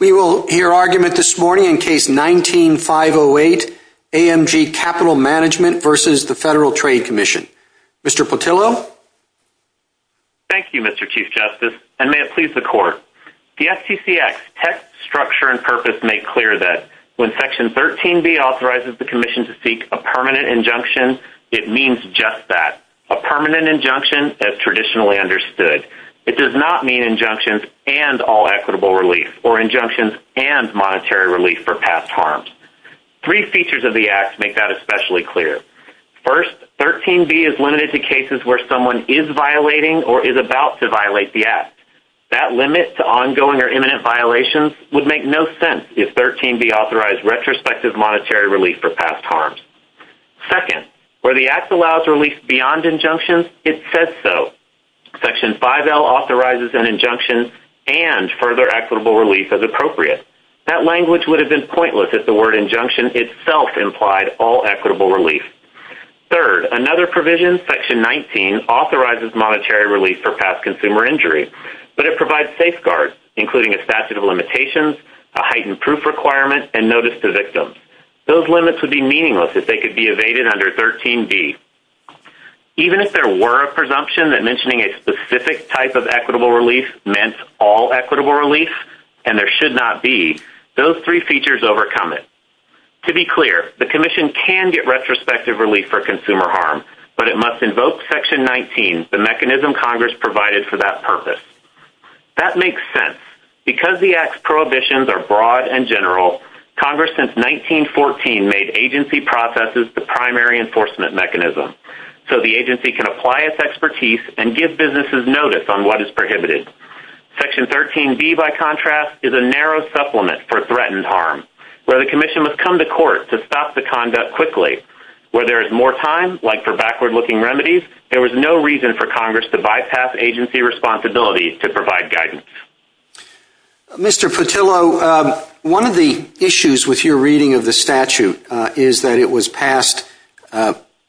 We will hear argument this morning in Case 19-508, AMG Capital Management v. Federal Trade Commission. Mr. Petillo? Thank you, Mr. Chief Justice, and may it please the Court. The FTC Act's text, structure, and purpose make clear that when Section 13b authorizes the Commission to seek a permanent injunction, it means just that, a permanent injunction as traditionally understood. It does not mean injunctions and all equitable relief or injunctions and monetary relief for past harms. Three features of the Act make that especially clear. First, 13b is limited to cases where someone is violating or is about to violate the Act. That limit to ongoing or imminent violations would make no sense if 13b authorized retrospective monetary relief for past harms. Second, where the Act allows relief beyond injunctions, it says so. Section 5L authorizes an injunction and provides further equitable relief as appropriate. That language would have been pointless if the word injunction itself implied all equitable relief. Third, another provision, Section 19, authorizes monetary relief for past consumer injury, but it provides safeguards, including a statute of limitations, a heightened proof requirement, and notice to victims. Those limits would be meaningless if they could be evaded under 13b. Even if there were a reasonable relief, and there should not be, those three features overcome it. To be clear, the Commission can get retrospective relief for consumer harm, but it must invoke Section 19, the mechanism Congress provided for that purpose. That makes sense. Because the Act's prohibitions are broad and general, Congress, since 1914, made agency processes the primary enforcement mechanism so the agency can apply its expertise and give businesses notice on what is prohibited. Section 13b, by contrast, is a narrow supplement for threatened harm, where the Commission must come to court to stop the conduct quickly. Where there is more time, like for backward-looking remedies, there is no reason for Congress to bypass agency responsibilities to provide guidance. Mr. Petillo, one of the issues with your reading of the statute is that it was passed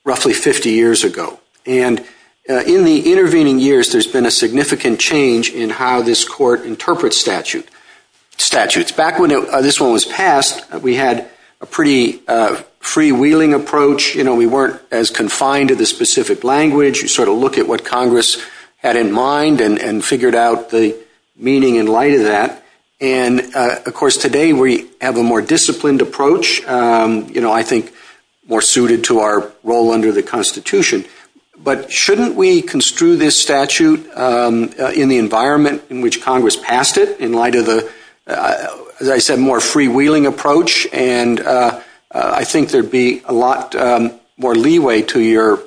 roughly 50 years ago. And in the intervening years, there's been a significant change in how this court interprets statutes. Back when this one was passed, we had a pretty freewheeling approach. You know, we weren't as confined to the specific language. You sort of look at what Congress had in mind and figured out the meaning in light of that. And, of course, today we have a more disciplined approach, you know, I think more suited to our role under the Constitution. But shouldn't we construe this statute in the environment in which Congress passed it in light of the, as I said, more freewheeling approach? And I think there'd be a lot more leeway to your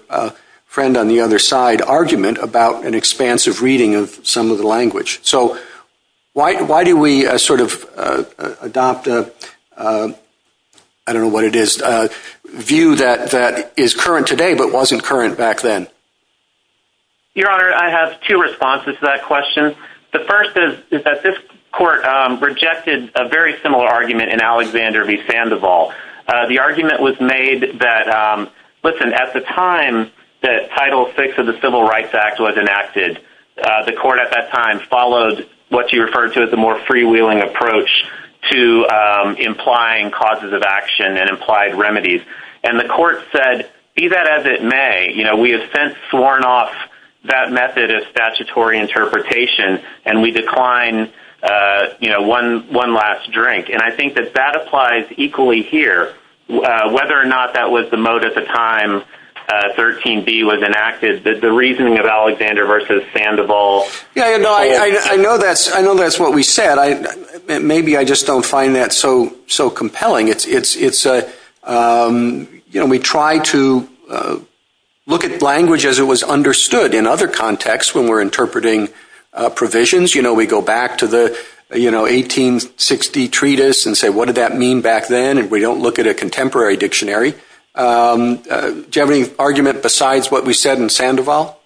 friend on the other side argument about an expansive reading of some of the language. So why do we sort of adopt a, I don't know what it is, view that is current to Congress today but wasn't current back then? Your Honor, I have two responses to that question. The first is that this court rejected a very similar argument in Alexander v. Sandoval. The argument was made that, listen, at the time that Title VI of the Civil Rights Act was enacted, the court at that time followed what you referred to as the more freewheeling approach to implying causes of action and applied remedies. And the court said, be that as it may, you know, we have since sworn off that method of statutory interpretation and we decline, you know, one last drink. And I think that that applies equally here, whether or not that was the mode at the time 13b was enacted, that the reasoning of Alexander v. Sandoval... Yeah, no, I know that's what we said. Maybe I just don't find that so compelling. It's just, you know, we try to look at language as it was understood in other contexts when we're interpreting provisions. You know, we go back to the, you know, 1860 treatise and say, what did that mean back then? And we don't look at a contemporary dictionary. Do you have any argument besides what we said in Sandoval?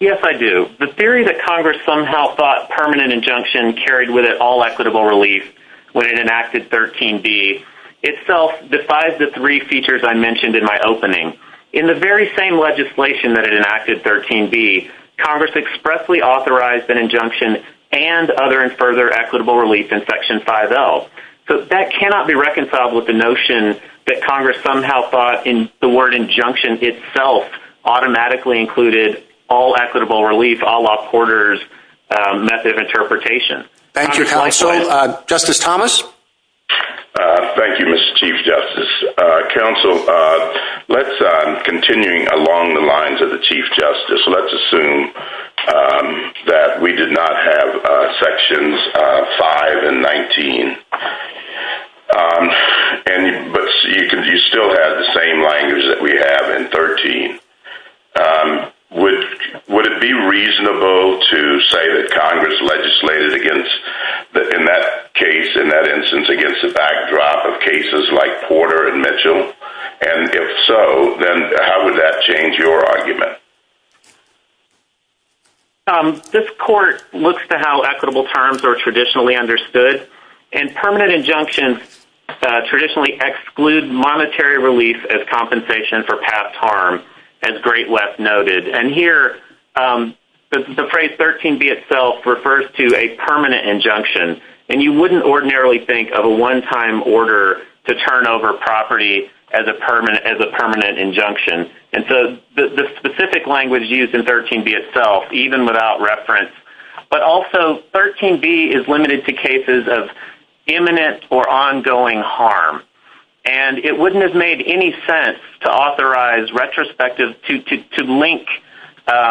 Yes, I do. The theory that Congress somehow thought permanent injunction carried with all equitable relief when it enacted 13b itself defies the three features I mentioned in my opening. In the very same legislation that it enacted 13b, Congress expressly authorized an injunction and other and further equitable relief in section 5L. So that cannot be reconciled with the notion that Congress somehow thought in the word injunction itself automatically included all equitable relief a la Porter's method of interpretation. Thank you, Counsel. Justice Thomas. Thank you, Mr. Chief Justice. Counsel, continuing along the lines of the Chief Justice, let's assume that we did not have sections 5 and 19. But you still have the same language that we have in 13. Would it be reasonable to say that Congress legislated against, in that case, in that instance, against the backdrop of cases like Porter and Mitchell? And if so, then how would that change your argument? This court looks to how equitable terms are traditionally understood. And permanent injunctions traditionally exclude monetary relief as compensation for past harm, as Great West noted. And here, the phrase 13b itself refers to a permanent injunction. And you wouldn't ordinarily think of a one-time order to turn over property as a permanent injunction. And so the specific language used in 13b itself, even without reference, but also 13b is limited to cases of imminent or ongoing harm. And it wouldn't have made any sense to link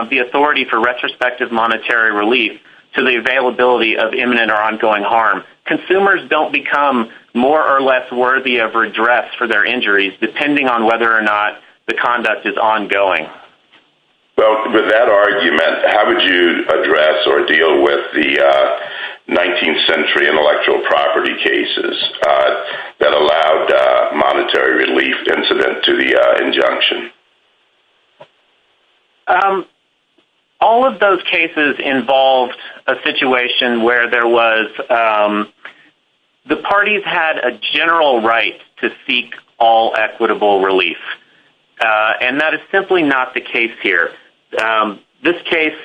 the authority for retrospective monetary relief to the availability of imminent or ongoing harm. Consumers don't become more or less worthy of redress for their injuries, depending on whether or not the conduct is ongoing. Well, with that argument, how would you address or deal with the 19th century intellectual property cases that allowed monetary relief incident to the injunction? All of those cases involved a situation where there was—the parties had a general right to seek all equitable relief. And that is simply not the case here. This case,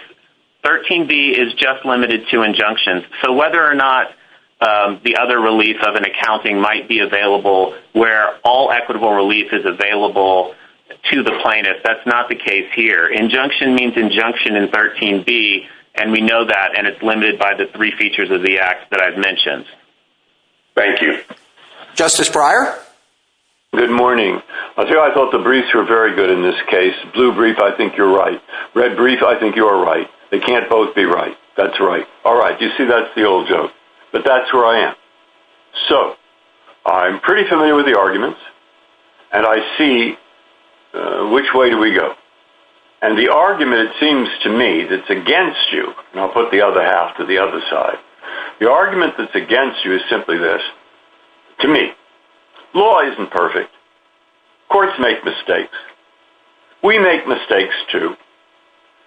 13b, is just limited to injunctions. So whether or not the other relief of an accounting might be available where all equitable relief is available to the plaintiff, that's not the case here. Injunction means injunction in 13b, and we know that, and it's limited by the three features of the Act that I've mentioned. Thank you. Justice Breyer? Good morning. I tell you, I thought the briefs were very good in this case. Blue brief, I think you're right. Red brief, I think you're right. They can't both be right. That's right. All right. You see, that's the old joke. But that's where I am. So, I'm pretty familiar with the arguments, and I see which way do we go. And the argument, it seems to me, that's against you—and I'll put the other half to the other side—the argument that's against you is simply this. To me, law isn't perfect. Courts make mistakes. We make mistakes, too.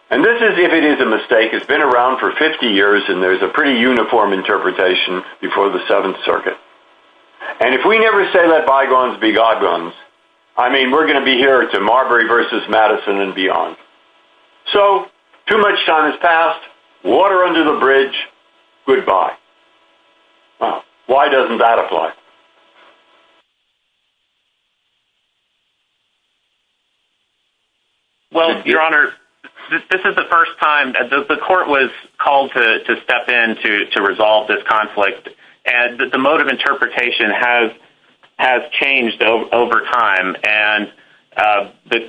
And this is if it is a mistake. It's been around for 50 years, and there's a pretty uniform interpretation before the Seventh Circuit. And if we never say, let bygones be bygones, I mean, we're going to be here to Marbury v. Madison and say goodbye. Why doesn't that apply? Well, Your Honor, this is the first time—the court was called to step in to resolve this conflict, and the mode of interpretation has changed over time, and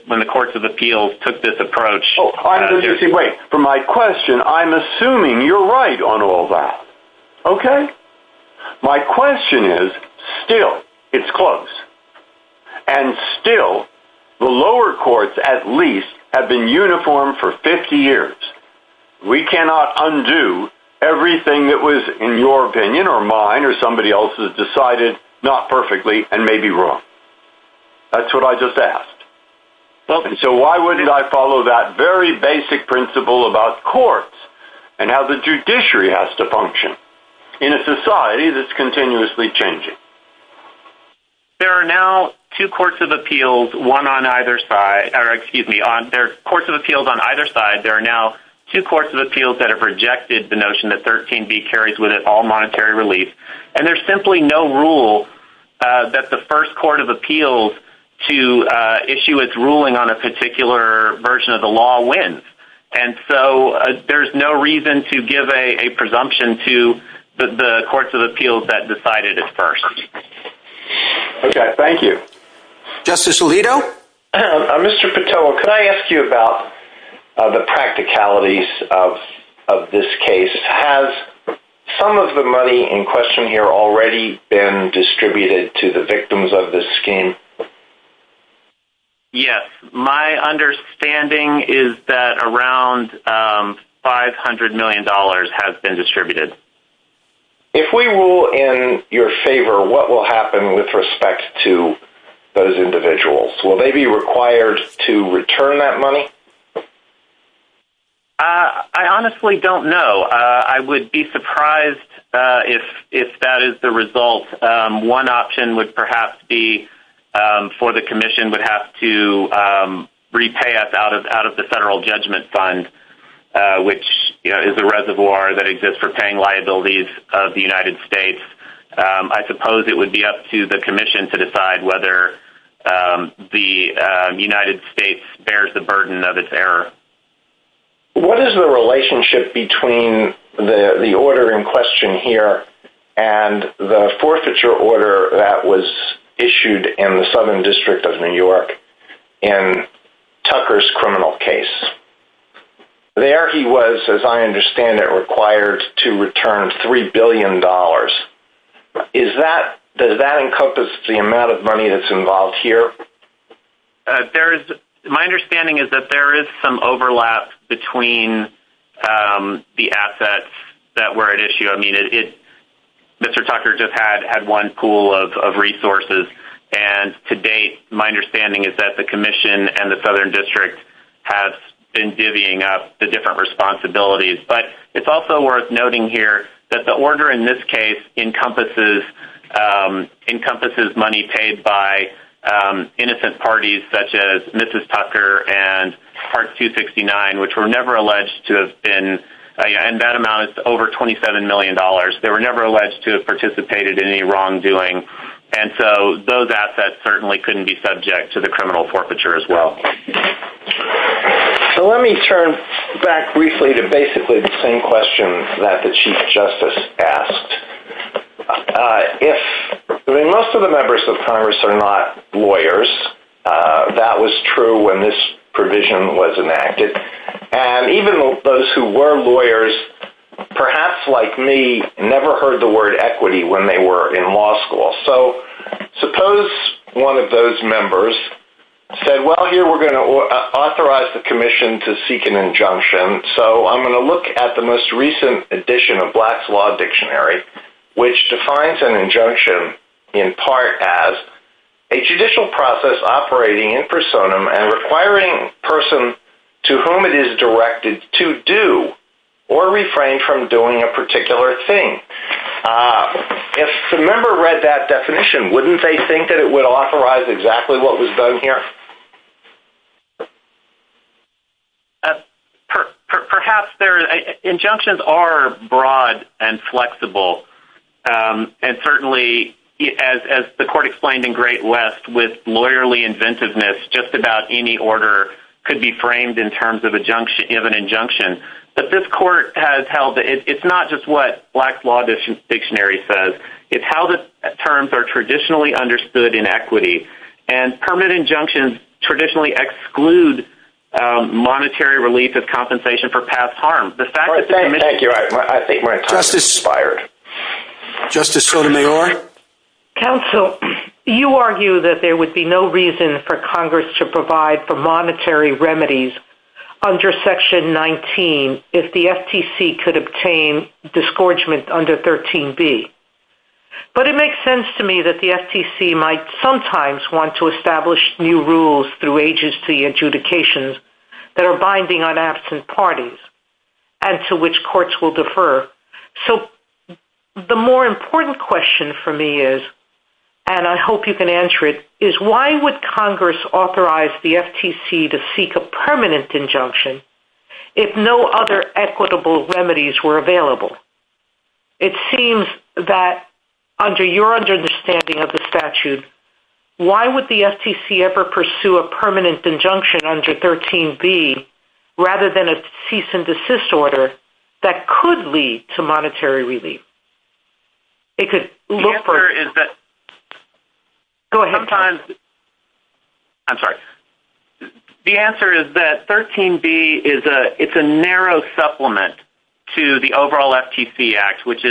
when the Courts of Appeals took this approach— Wait, for my question, I'm assuming you're right on all that. Okay? My question is, still, it's close. And still, the lower courts, at least, have been uniform for 50 years. We cannot undo everything that was, in your opinion, or mine, or somebody else's, decided not perfectly and may be wrong. That's what I just asked. So why wouldn't I follow that very basic principle about courts and how the judiciary has to function in a society that's continuously changing? There are now two Courts of Appeals, one on either side—or, excuse me, there are Courts of Appeals on either side. There are now two Courts of Appeals that have rejected the notion that 13b carries with it all monetary relief. And there's simply no rule that the first Court of Appeals to issue its ruling on a particular version of the law wins. And so there's no reason to give a presumption to the Courts of Appeals that decided it first. Okay, thank you. Justice Alito? Mr. Patoa, can I ask you about the practicalities of this case? Has some of the money in question here already been distributed to the victims of this scheme? Yes. My understanding is that around $500 million has been distributed. If we rule in your favor, what will happen with respect to those individuals? Will they be required to return that money? I honestly don't know. I would be surprised if that is the result. One option would perhaps be for the Commission would have to repay us out of the Federal Judgment Fund, which is a reservoir that exists for paying liabilities of the United States. I suppose it would be up to the Commission to decide whether the United States bears the burden of its error. What is the relationship between the order in question here and the forfeiture order that was issued in the Southern District of New York in Tucker's criminal case? There he was, as I understand it, required to return $3 billion. Does that encompass the amount of money that's involved here? My understanding is that there is some overlap between the assets that were at issue. Mr. Tucker just had one pool of resources, and to date, my understanding is that the Commission and the Southern District have been divvying up the different responsibilities, but it's also worth noting here that the order in this case encompasses money paid by innocent parties such as Mrs. Tucker and Part 269, which were never alleged to have been—and that amount is over $27 million. They were never alleged to have participated in any wrongdoing, and so those assets certainly couldn't be subject to the criminal forfeiture as well. Let me turn back briefly to basically the same question that the Chief Justice asked. Most of the members of Congress are not lawyers. That was true when this provision was enacted, and even those who were lawyers, perhaps like me, never heard the word equity when they were in law school. So suppose one of those members said, well, here we're going to authorize the Commission to seek an injunction, so I'm going to look at the most recent edition of Black's Law Dictionary, which defines an injunction in part as a judicial process operating in personam and requiring a person to whom it is directed to do or refrain from doing a particular thing. If a member read that definition, wouldn't they think that it would authorize exactly what was done here? Perhaps there—injunctions are broad and flexible, and certainly, as the Court explained in Great West, with lawyerly inventiveness, just about any order could be framed in terms of an injunction. But this Court has held that it's not just what Black's Law Dictionary says. It's how the terms are traditionally understood in equity, and permanent injunctions traditionally exclude monetary relief as compensation for past harm. Thank you. I think we're— Justice Sotomayor? Counsel, you argue that there would be no reason for Congress to provide for monetary remedies under Section 19 if the FTC could obtain disgorgement under 13b. But it makes sense to me that the FTC might sometimes want to establish new rules through agency adjudications that are binding on absent parties and to which courts will defer. So the more important question for me is—and I hope you can answer it—is why would Congress authorize the FTC to seek a permanent injunction if no other equitable remedies were available? It seems that, under your understanding of the statute, why would the FTC ever pursue a permanent injunction under 13b rather than a cease-and-desist order that could lead to monetary relief? It could look for— The answer is that— Go ahead. Sometimes—I'm sorry. The answer is that 13b is a—it's a narrow supplement to the overall FTC Act, which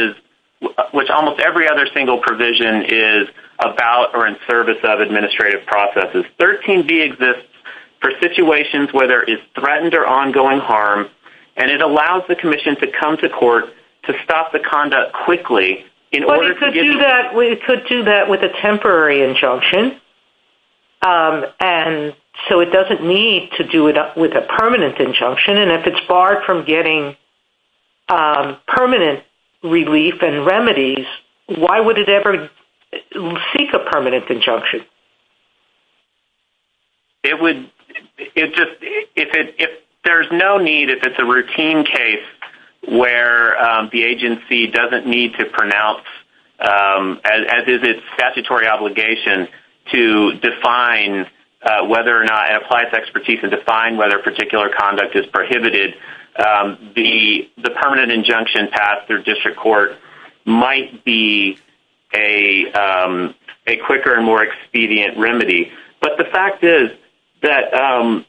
almost every other single provision is about or in service of administrative processes. 13b exists for situations where there is threatened or ongoing harm, and it allows the Commission to come to court to stop the conduct quickly in order to give— But it could do that—it could do that with a temporary injunction, and so it doesn't need to do it with a permanent injunction. And if it's barred from getting permanent relief and remedies, why would it ever seek a permanent injunction? It would—it just—if there's no need, if it's a routine case where the agency doesn't need to pronounce, as is its statutory obligation, to define whether or not it applies to district court, it might be a quicker and more expedient remedy. But the fact is that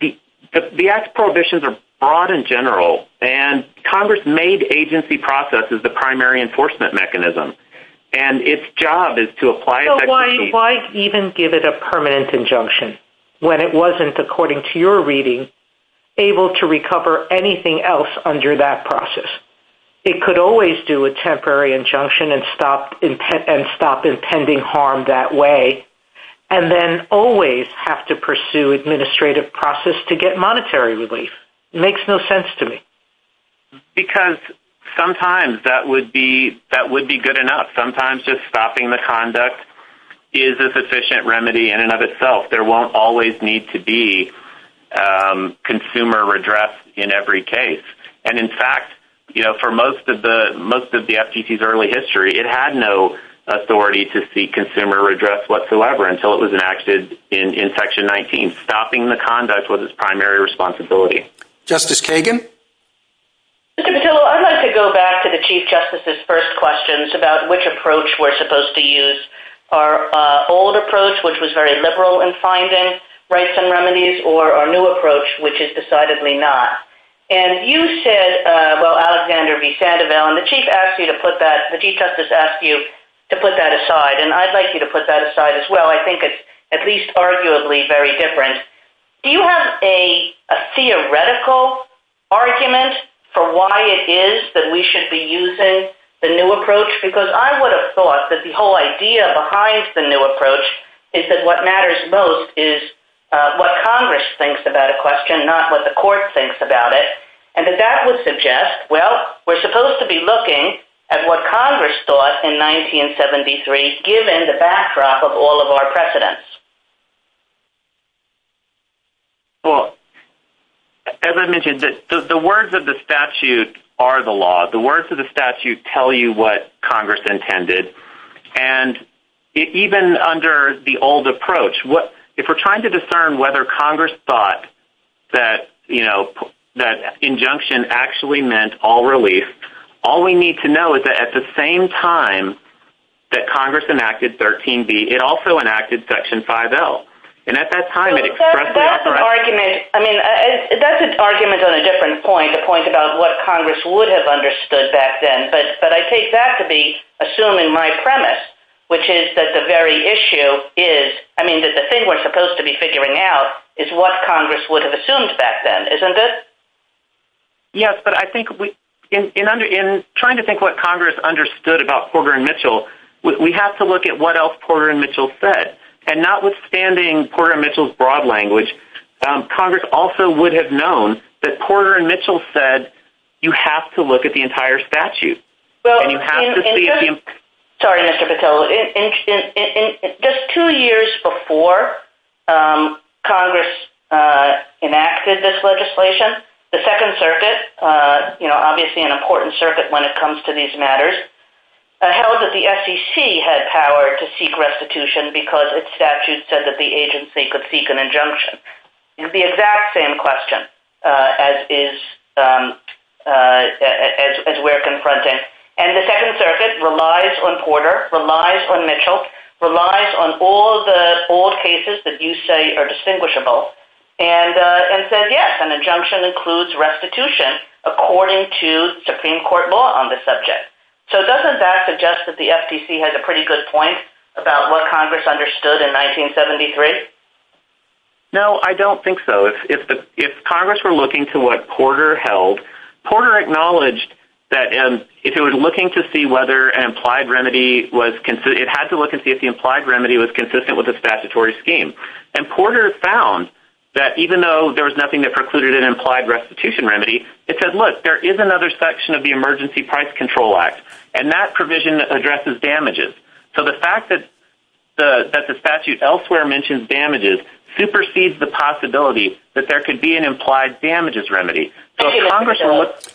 the Act's prohibitions are broad and general, and Congress made agency processes the primary enforcement mechanism, and its job is to apply— So why even give it a permanent injunction when it wasn't, according to your reading, able to recover anything else under that process? It could always do a temporary injunction and stop impending harm that way, and then always have to pursue administrative process to get monetary relief. It makes no sense to me. Because sometimes that would be—that would be good enough. Sometimes just stopping the consumer redress in every case. And in fact, you know, for most of the—most of the FTC's early history, it had no authority to seek consumer redress whatsoever until it was enacted in Section 19. Stopping the conduct was its primary responsibility. Justice Kagan? Mr. Petillo, I'd like to go back to the Chief Justice's first questions about which approach we're supposed to use. Our old approach, which was very liberal in finding rights and remedies, or our new approach, which is decidedly not. And you said—well, Alexander v. Sandoval—and the Chief asked you to put that—the Chief Justice asked you to put that aside, and I'd like you to put that aside as well. I think it's at least arguably very different. Do you have a theoretical argument for why it is that we should be using the new approach? Because I would have thought that the whole idea behind the new approach is that what matters most is what Congress thinks about a question, not what the court thinks about it. And that that would suggest, well, we're supposed to be looking at what Congress thought in 1973, given the backdrop of all of our precedents. Well, as I mentioned, the words of the statute are the law. The words of the statute tell you what Congress intended. And even under the old approach, if we're trying to discern whether Congress thought that injunction actually meant all relief, all we need to know is that at the same time that Congress enacted 13B, it also enacted Section 5L. And at that time it expressed— So that's an argument—I mean, that's an argument on a different point, a point about what Congress would have understood back then. But I take that to be assuming my premise, which is that the very issue is—I mean, that the thing we're supposed to be figuring out is what Congress would have assumed back then, isn't it? Yes, but I think in trying to think what Congress understood about Porter and Mitchell, we have to look at what else Porter and Mitchell said. And notwithstanding Porter and Mitchell's broad language, Congress also would have known that Porter and Mitchell said, you have to look at the entire statute. And you have to see— Sorry, Mr. Petillo. Just two years before Congress enacted this legislation, the Second Circuit—you know, obviously an important circuit when it comes to these matters—held that the SEC had power to seek restitution because its statute said that the agency could seek an injunction. It's the exact same question as we're confronting. And the Second Circuit relies on Porter, relies on Mitchell, relies on all the old cases that you say are distinguishable, and says, yes, an injunction includes restitution according to Supreme Court law on the subject. So doesn't that suggest that the FTC has a pretty good point about what Congress understood in 1973? No, I don't think so. If Congress were looking to what Porter held, Porter acknowledged that if it were looking to see whether an implied remedy was—it had to look and see if the implied remedy was consistent with the statutory scheme. And Porter found that even though there was nothing that precluded an implied restitution remedy, it said, look, there is another section of the emergency price control act, and that provision addresses damages. So the fact that the statute elsewhere mentions damages supersedes the possibility that there could be an implied damages remedy. Thank you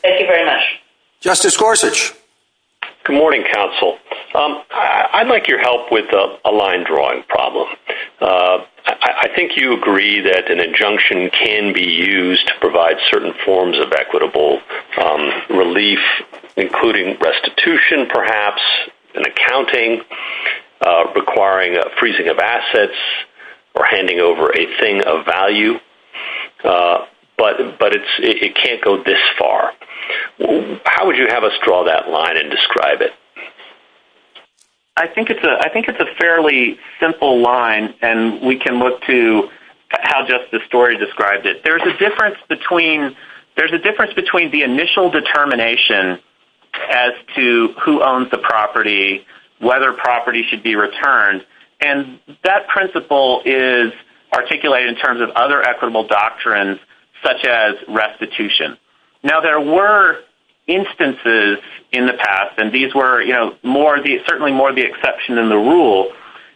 very much. Justice Gorsuch. Good morning, counsel. I'd like your help with a line-drawing problem. I think you agree that an injunction can be used to provide certain forms of equitable relief, including restitution, perhaps, and accounting, requiring a freezing of assets, or handing over a thing of value. But it can't go this far. How would you have us draw that line and describe it? I think it's a fairly simple line, and we can look to how Justice Story described it. There's a difference between the initial determination as to who owns the property, whether property should be returned, and that principle is articulated in terms of other equitable doctrines, such as restitution. Now, there were instances in the past, and these were certainly more the exception than the rule,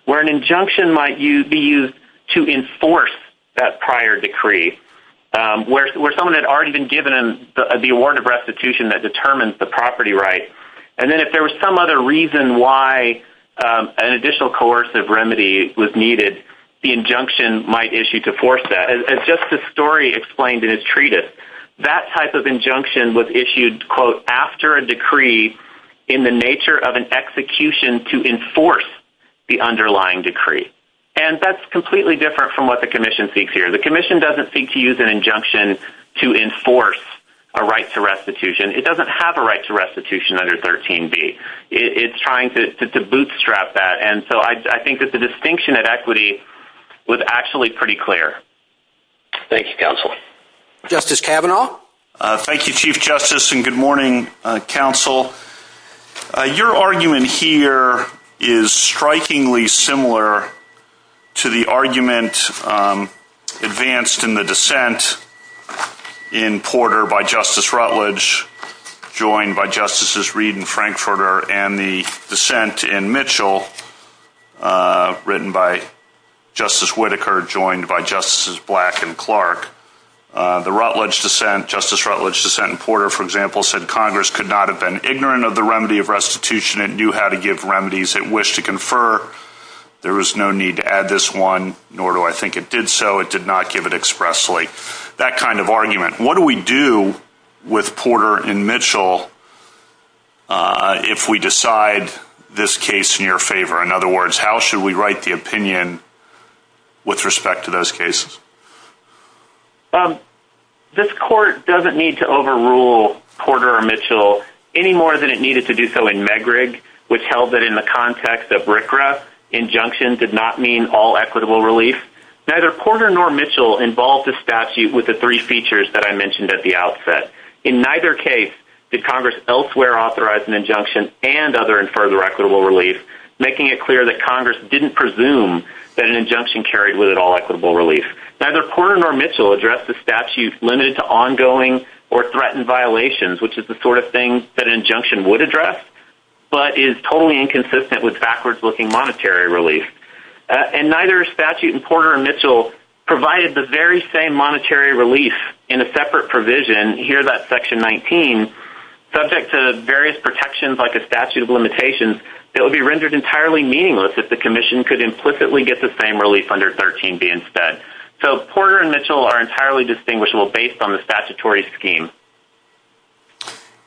where an injunction might be used to enforce that prior decree, where someone had already been given the award of restitution that determines the property right. And then if there was some other reason why an additional coercive remedy was needed, the injunction might issue to force that. As Justice Story explained in his treatise, that type of injunction was issued, quote, after a decree in the nature of an execution to enforce the underlying decree. And that's completely different from what the Commission seeks here. The Commission doesn't seek to use an injunction to enforce a right to restitution. It doesn't have a right to restitution under 13B. It's trying to bootstrap that. And so I think that the distinction at equity was actually pretty clear. Thank you, Counsel. Justice Kavanaugh? Thank you, Chief Justice, and good morning, Counsel. Your argument here is strikingly similar to the argument advanced in the dissent in Porter by Justice Rutledge, joined by Justices Reed and Frankfurter, and the dissent in Mitchell, written by Justice Whitaker, joined by Justices Black and Clark. The Rutledge dissent, Justice Rutledge's dissent in Porter, for example, said Congress could not have been ignorant of the remedy of restitution. It knew how to give remedies it wished to confer. There was no need to add this one, nor do I think it did so. It did not give it expressly. That kind of argument. What do we do with Porter and Mitchell if we decide this case in your favor? In other words, how should we write the opinion with respect to those cases? This Court doesn't need to overrule Porter or Mitchell any more than it needed to do so in Megrig, which held that in the context of RCRA, injunction did not mean all equitable relief. Neither Porter nor Mitchell involved the statute with the three features that I mentioned at the outset. In neither case did Congress elsewhere authorize an injunction and other and further equitable relief, making it clear that Congress didn't presume that an injunction carried with it all equitable relief. Neither Porter nor Mitchell addressed the statute limited to ongoing or threatened violations, which is the sort of thing that an injunction would address, but is totally inconsistent with backwards-looking monetary relief. And neither statute in Porter or Mitchell provided the very same monetary relief in a separate provision, here that section 19, subject to various protections like a statute of limitations, that would be rendered entirely meaningless if the Commission could implicitly get the same relief under 13B instead. So Porter and Mitchell are entirely distinguishable based on the statutory scheme.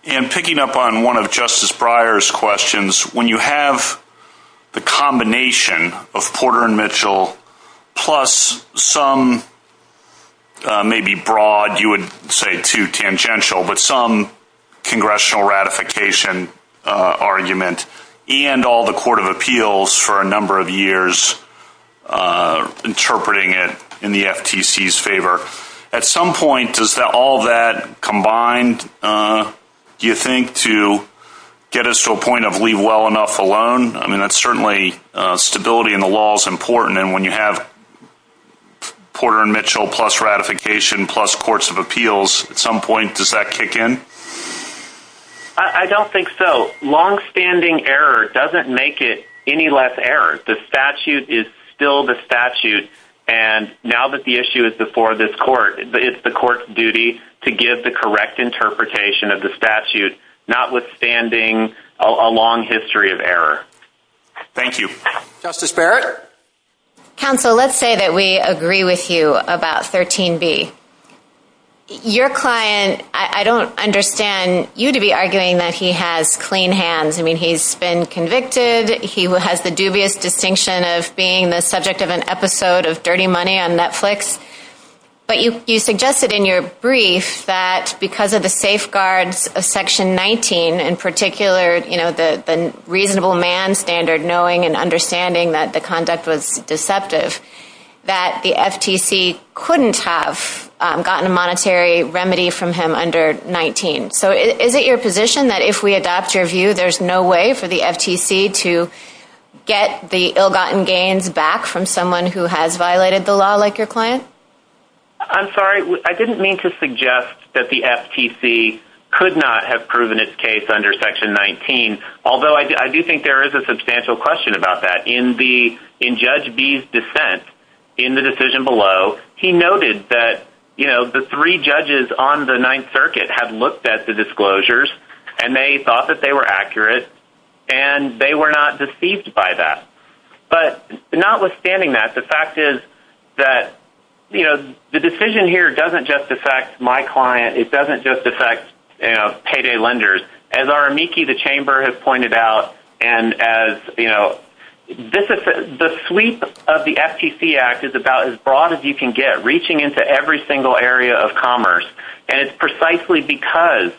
And picking up on one of Justice Breyer's questions, when you have the combination of some Congressional ratification argument and all the Court of Appeals for a number of years interpreting it in the FTC's favor, at some point does all that combine, do you think, to get us to a point of leave well enough alone? I mean, that's certainly stability in the law is important, and when you have Porter and Mitchell plus ratification plus Courts of Appeals, at some point does that kick in? I don't think so. Long-standing error doesn't make it any less error. The statute is still the statute, and now that the issue is before this Court, it's the Court's duty to give the correct interpretation of the statute, notwithstanding a long history of error. Thank you. Justice Barrett? Counsel, let's say that we agree with you about 13B. Your client, I don't understand you to be arguing that he has clean hands. I mean, he's been convicted. He has the dubious distinction of being the subject of an episode of Dirty Money on Netflix. But you suggested in your brief that because of the safeguards of Section 19, in particular, you know, the reasonable man standard, knowing and understanding that the conduct was deceptive, that the FTC couldn't have gotten a monetary remedy from him under 19. So is it your position that if we adopt your view, there's no way for the FTC to get the ill-gotten gains back from someone who has violated the law, like your client? I'm sorry. I didn't mean to suggest that the FTC could not have proven its case under Section 19, although I do think there is a substantial question about that. In Judge B's dissent in the decision below, he noted that, you know, the three judges on the Ninth Circuit had looked at the disclosures, and they thought that they were accurate, and they were not deceived by that. But notwithstanding that, the fact is that, you know, the decision here doesn't just affect my case. I think the Chamber has pointed out, and as, you know, the sweep of the FTC Act is about as broad as you can get, reaching into every single area of commerce. And it's precisely because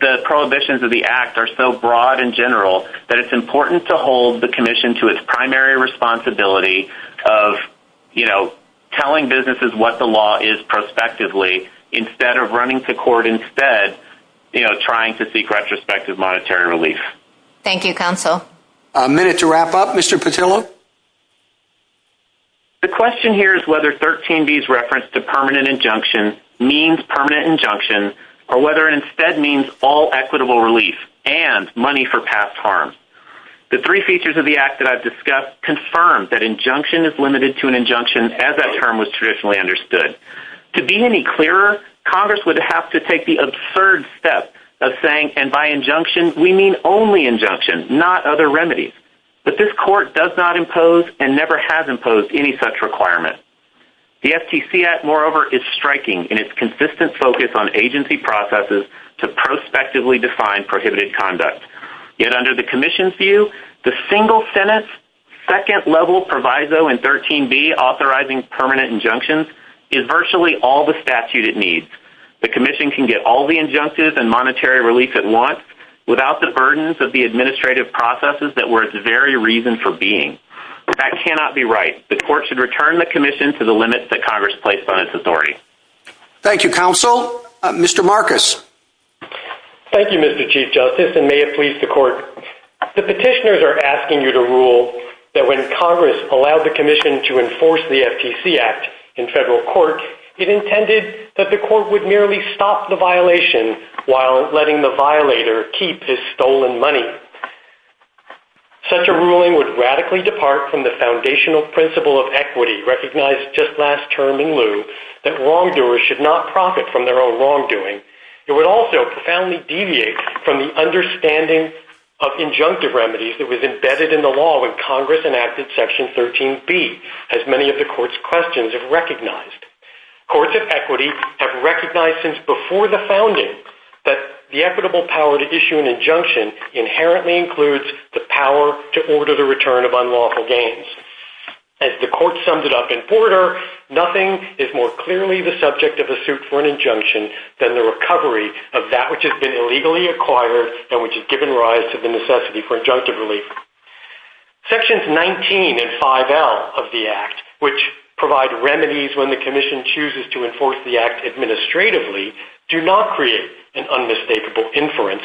the prohibitions of the Act are so broad and general that it's important to hold the Commission to its primary responsibility of, you know, telling businesses what the law is prospectively instead of running to court instead, you know, trying to seek retrospective monetary relief. Thank you, Counsel. A minute to wrap up. Mr. Petillo? The question here is whether 13B's reference to permanent injunction means permanent injunction, or whether it instead means all equitable relief and money for past harm. The three features of the Act that I've discussed confirm that injunction is limited to an injunction as that term was traditionally understood. To be any clearer, Congress would have to take the absurd step of saying, and by injunction, we mean only injunction, not other remedies. But this Court does not impose and never has imposed any such requirement. The FTC Act, moreover, is striking in its consistent focus on agency processes to prospectively define prohibited conduct. Yet under the Commission's view, the single Senate's second level Proviso in 13B authorizing permanent injunctions is virtually all the statute it needs. The Commission can get all the injunctives and monetary relief at once without the burdens of the administrative processes that were its very reason for being. That cannot be right. The Court should return the Commission to the limits that Congress placed on its authority. Thank you, Counsel. Mr. Marcus? Thank you, Mr. Chief Justice, and may it please the Court. The petitioners are asking you to rule that when Congress allowed the Commission to enforce the FTC Act in federal court, it intended that the Court would merely stop the violation while letting the violator keep his stolen money. Such a ruling would radically depart from the foundational principle of equity recognized just last term in lieu that wrongdoers should not profit from their own wrongdoing. It would also profoundly deviate from the understanding of injunctive remedies that was embedded in the law when Congress enacted Section 13B, as many of the Court's questions have recognized. Courts of equity have recognized since before the founding that the equitable power to issue an injunction inherently includes the power to order the return of unlawful gains. As the Court summed it up in Porter, nothing is more clearly the subject of a suit for an injunction than the recovery of that which has been illegally acquired and which has given rise to the necessity for injunctive relief. Sections 19 and 5L of the Act, which provide remedies when the Commission chooses to enforce the Act administratively, do not create an unmistakable inference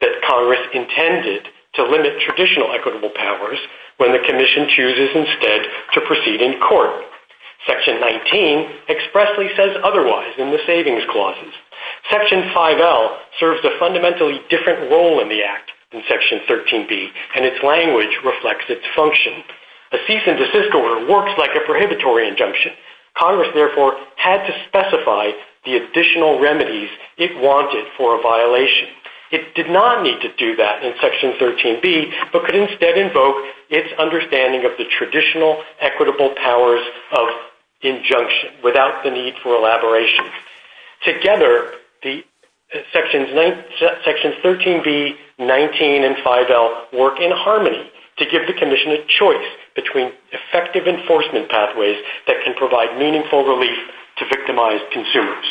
that Congress intended to limit traditional equitable powers when the Commission chooses instead to proceed in court. Section 19 expressly says otherwise in the savings clauses. Section 5L serves a fundamentally different role in the Act than Section 13B. In Section 13B, the language reflects its function. A cease and desist order works like a prohibitory injunction. Congress, therefore, had to specify the additional remedies it wanted for a violation. It did not need to do that in Section 13B, but could instead invoke its understanding of the traditional equitable powers of injunction without the need for elaboration. Together, Sections 13B, 19, and 5L work in the same way to give the Commission a choice between effective enforcement pathways that can provide meaningful relief to victimized consumers.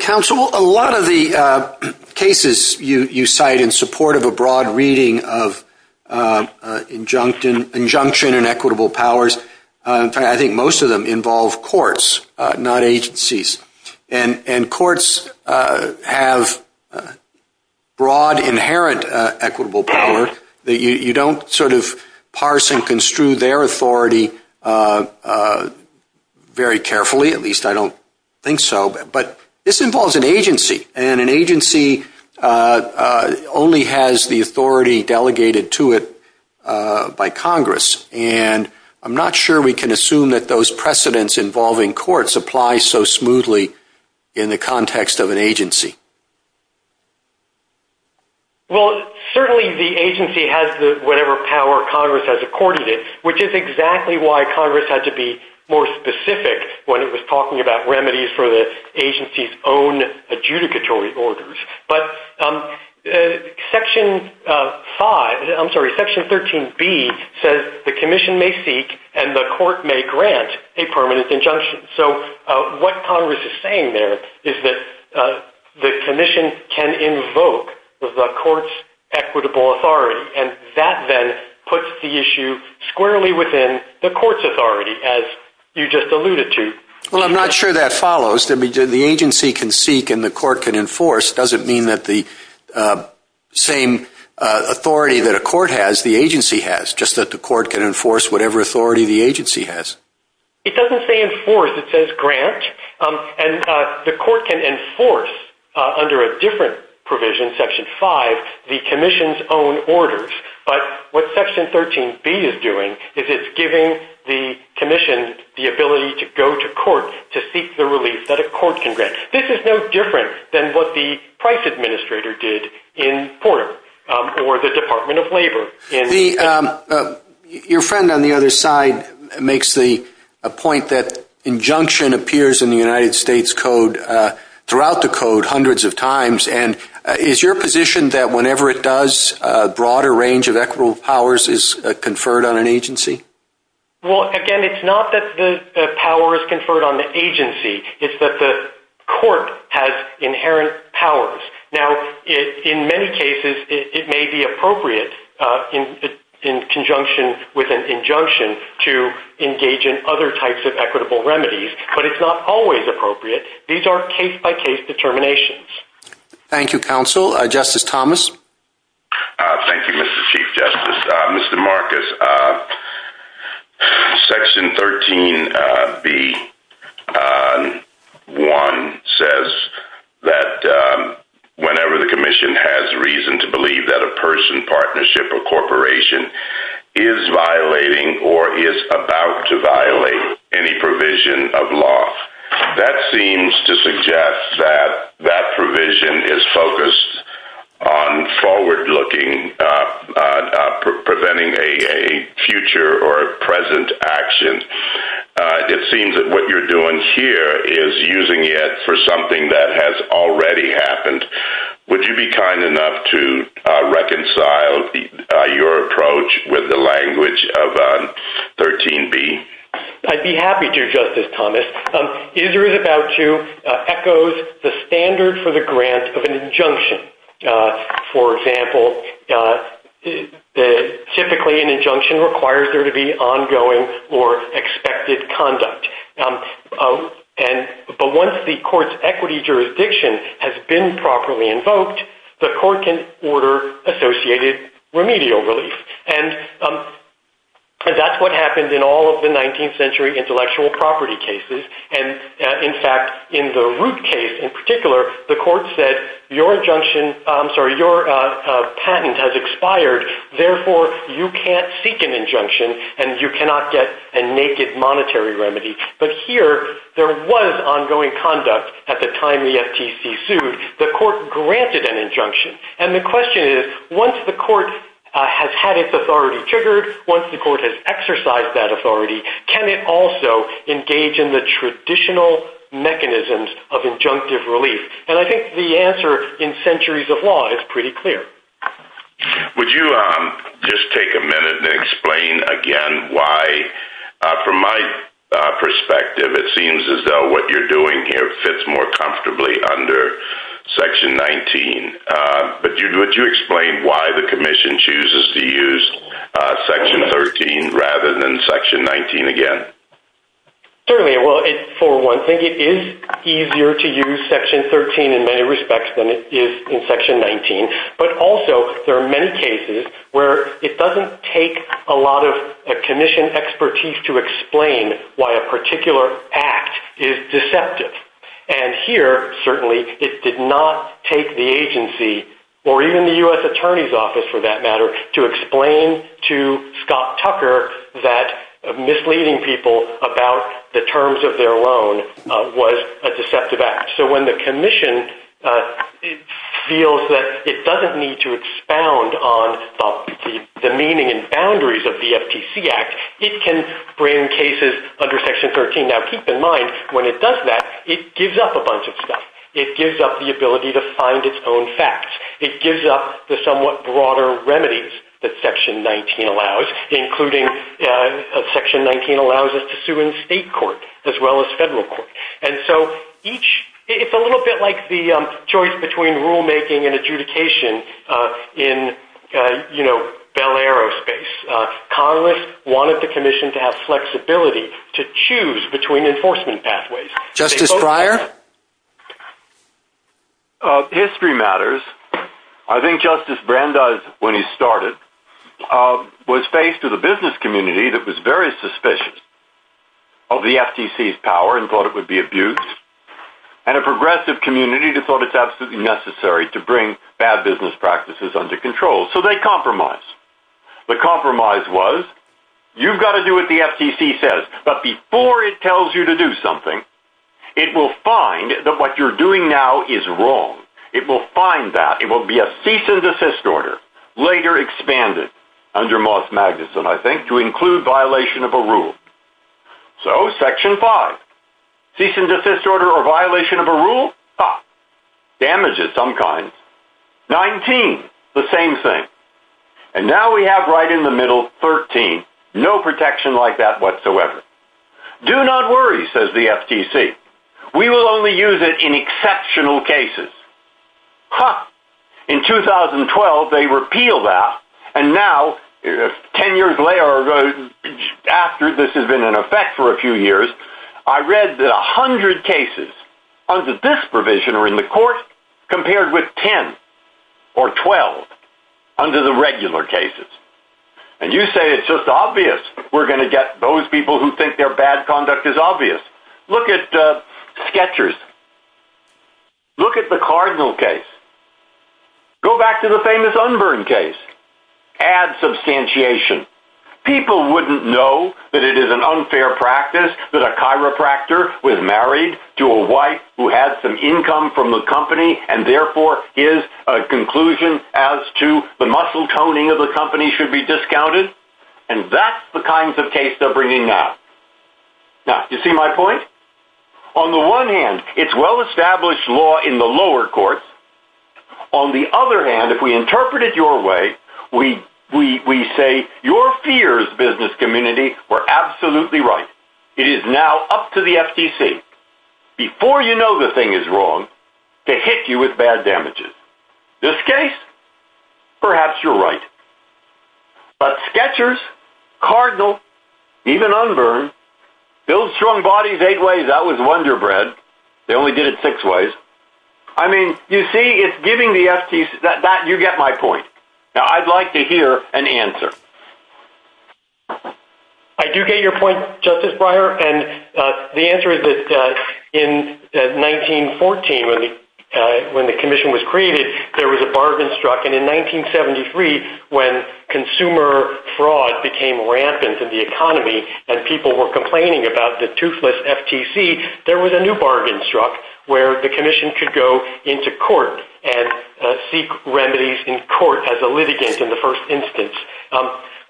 Counsel, a lot of the cases you cite in support of a broad reading of injunction and equitable powers, I think most of them involve courts, not agencies. And courts have broad, inherent equitable power. They don't sort of parse and construe their authority very carefully, at least I don't think so. But this involves an agency, and an agency only has the authority delegated to it by Congress. And I'm not sure we can assume that those precedents involving courts apply so smoothly in the context of an agency. Well, certainly the agency has whatever power Congress has accorded it, which is exactly why Congress had to be more specific when it was talking about remedies for the agency's own adjudicatory orders. But Section 5, I'm sorry, Section 13B says the Commission may seek and the court may grant a permanent injunction. So what Congress is saying there is that the Commission can invoke the court's equitable authority. And that then puts the issue squarely within the court's authority, as you just alluded to. Well, I'm not sure that follows. The agency can seek and the court can enforce doesn't mean that the same authority that a court has, the agency has, just that the court can enforce whatever authority the agency has. It doesn't say enforce. It says grant. And the court can enforce under a different provision, Section 5, the Commission's own orders. But what Section 13B is doing is it's giving the Commission the ability to go to court to seek the relief that a court can grant. This is no different than what the Price Administrator did in Porter or the Department of Labor. Your friend on the other side makes the point that injunction appears in the United States Code throughout the Code hundreds of times. And is your position that whenever it does, a broader range of equitable powers is conferred on an agency? Well, again, it's not that the power is conferred on the agency. It's that the court has inherent powers. Now, in many cases, it may be appropriate in conjunction with an injunction to engage in other types of equitable remedies. But it's not always appropriate. These are case-by-case determinations. Thank you, Counsel. Justice Thomas? Thank you, Mr. Chief Justice. Mr. Marcus, Section 13B1 says that whenever the Commission has reason to believe that a person, partnership, or corporation is violating or is about to violate any provision of law, that seems to suggest that that provision is focused on forward-looking, preventing a future or a present action. It seems that what you're doing here is using it for something that has already happened. Would you be kind enough to reconcile your position or approach with the language of 13B? I'd be happy to, Justice Thomas. Is or is about to echoes the standard for the grant of an injunction. For example, typically an injunction requires there to be ongoing or expected conduct. But once the court's equity jurisdiction has been properly invoked, the court can order associated remedies. And that's what happened in all of the 19th century intellectual property cases. In fact, in the Root case in particular, the court said, your patent has expired. Therefore, you can't seek an injunction and you cannot get a naked monetary remedy. But here, there was ongoing conduct at the time the FTC sued. The court granted an injunction. And the question is, once the court has had its authority triggered, once the court has exercised that authority, can it also engage in the traditional mechanisms of injunctive relief? And I think the answer in centuries of law is pretty clear. Would you just take a minute and explain again why, from my perspective, it seems as though what you're doing here fits more comfortably under Section 19. Would you use Section 13 rather than Section 19 again? Certainly. For one thing, it is easier to use Section 13 in many respects than it is in Section 19. But also, there are many cases where it doesn't take a lot of commission expertise to explain why a particular act is deceptive. And here, certainly, it did not take the agency, or even the U.S. government, to explain to Scott Tucker that misleading people about the terms of their loan was a deceptive act. So when the commission feels that it doesn't need to expound on the meaning and boundaries of the FTC Act, it can bring cases under Section 13. Now, keep in mind, when it does that, it gives up a bunch of stuff. It gives up the ability to find its own facts. And that's what Section 19 allows, including Section 19 allows us to sue in state court, as well as federal court. And so, it's a little bit like the choice between rulemaking and adjudication in, you know, Bell Aero space. Congress wanted the commission to have flexibility to choose between enforcement pathways. Justice Breyer? History matters. I think Justice Brandeis, when he started, was faced with a business community that was very suspicious of the FTC's power and thought it would be abused, and a progressive community that thought it's absolutely necessary to bring bad business practices under control. So they compromised. The compromise was, you've got to do what the FTC says, but before it tells you to do something, it will find that what you're doing now is wrong. It will find that. It will be a cease and desist order, under Moss Magnuson, I think, to include violation of a rule. So, Section 5, cease and desist order or violation of a rule? Ha! Damages of some kind. 19, the same thing. And now we have right in the middle, 13. No protection like that whatsoever. Do not worry, says the FTC. We will only use it in exceptional cases. Ha! In 2012, they repealed that, and 10 years later, or after this has been in effect for a few years, I read that 100 cases under this provision are in the court, compared with 10 or 12 under the regular cases. And you say it's just obvious. We're going to get those people who think their bad conduct is obvious. Look at Sketchers. Look at the Cardinal case. Go back to the famous Unburn case. Look at the case of the Constantiation. People wouldn't know that it is an unfair practice that a chiropractor was married to a wife who had some income from the company, and therefore his conclusion as to the muscle toning of the company should be discounted. And that's the kinds of cases they're bringing up. Now, do you see my point? On the one hand, it's well-established law in the lower courts. On the other hand, if we interpret it your way, we say your fears, business community, were absolutely right. It is now up to the FTC, before you know the thing is wrong, to hit you with bad damages. This case, perhaps you're right. But Sketchers, Cardinal, even Unburn, built strong bodies eight ways. That was wonder bread. They only did it six ways. I mean, you see, it's giving the FTC a hard time. You get my point. Now, I'd like to hear an answer. I do get your point, Justice Breyer. And the answer is that in 1914, when the Commission was created, there was a bargain struck. And in 1973, when consumer fraud became rampant in the economy and people were complaining about the toothless FTC, there was a new bargain struck where the Commission could go into court and make remedies in court as a litigant in the first instance.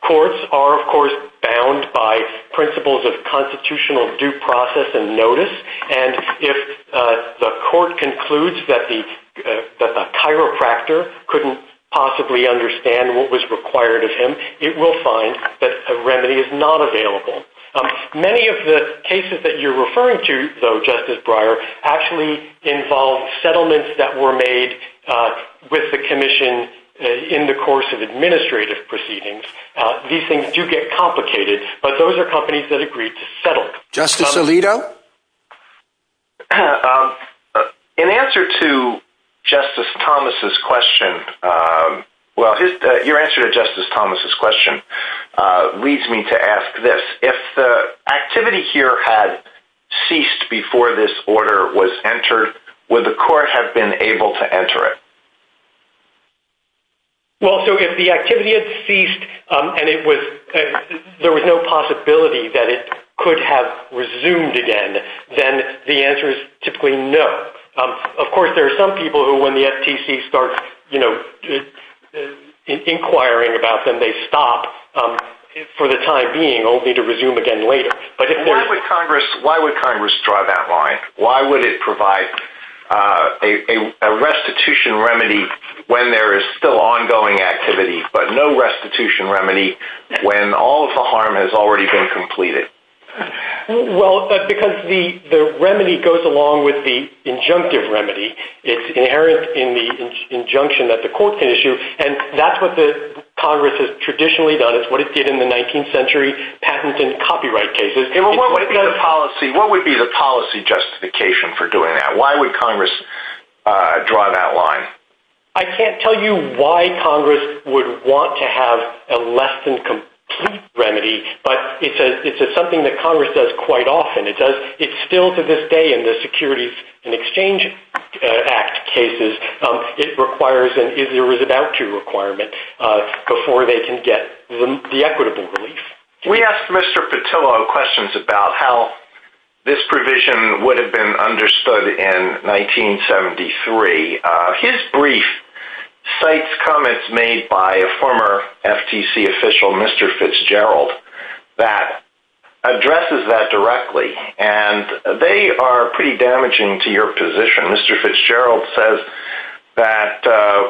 Courts are, of course, bound by principles of constitutional due process and notice. And if the court concludes that the chiropractor couldn't possibly understand what was required of him, it will find that a remedy is not available. Many of the cases that you're referring to, though, Justice Breyer, actually involve settlements that were made in the course of administrative proceedings. These things do get complicated, but those are companies that agreed to settle. Justice Alito? In answer to Justice Thomas's question, well, your answer to Justice Thomas's question leads me to ask this. If the activity here had ceased before this order was entered, would the court have been able to enter it? Well, so if the activity had ceased and there was no possibility that it could have resumed again, then the answer is typically no. Of course, there are some people who, when the FTC starts inquiring about them, they stop for the time being only to resume again later. Why would Congress draw that line? Why would it provide a restitution remedy, which is still ongoing activity, but no restitution remedy when all of the harm has already been completed? Well, because the remedy goes along with the injunctive remedy. It's inherent in the injunction that the court can issue, and that's what Congress has traditionally done. It's what it did in the 19th century patent and copyright cases. What would be the policy justification why Congress would want to have a less than complete remedy? But it's something that Congress does quite often. It still, to this day, in the Securities and Exchange Act cases, it requires an is-or-is-about-to requirement before they can get the equitable relief. We asked Mr. Petillo questions about how this provision would have been understood in 1973. There were some comments made by a former FTC official, Mr. Fitzgerald, that addresses that directly, and they are pretty damaging to your position. Mr. Fitzgerald says that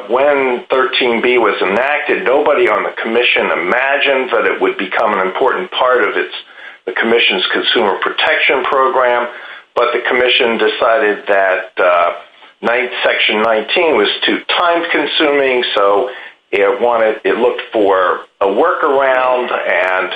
when 13b was enacted, nobody on the commission imagined that it would become an important part of the commission's consumer protection program, but the commission decided that section 19 was too complex, and so it looked for a workaround, and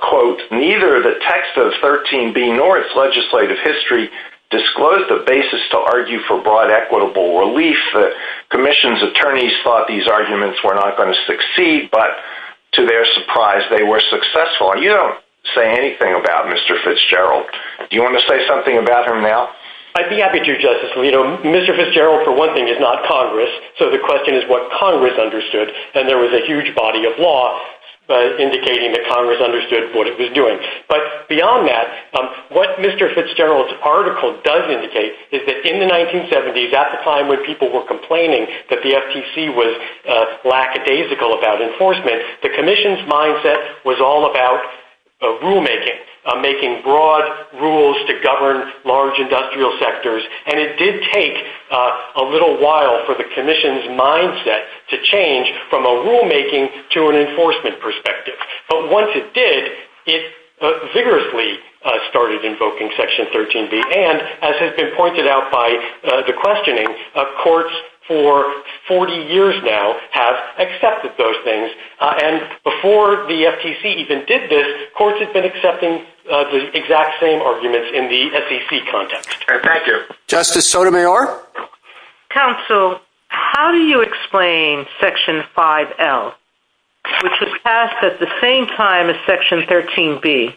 quote, neither the text of 13b nor its legislative history disclosed the basis to argue for broad equitable relief. The commission's attorneys thought these arguments were not going to succeed, but to their surprise, they were successful. You don't say anything about Mr. Fitzgerald. Do you want to say that there was a huge body of law indicating that Congress understood what it was doing? But beyond that, what Mr. Fitzgerald's article does indicate is that in the 1970s, at the time when people were complaining that the FTC was lackadaisical about enforcement, the commission's mindset was all about rulemaking, making broad rules to govern large industrial sectors, and it did take a little while to change from a rulemaking to an enforcement perspective. But once it did, it vigorously started invoking section 13b, and as has been pointed out by the questioning, courts for 40 years now have accepted those things, and before the FTC even did this, courts had been accepting the exact same arguments in the SEC context. Thank you. Justice Sotomayor? Counsel, how do you explain section 5L, which was passed at the same time as section 13b,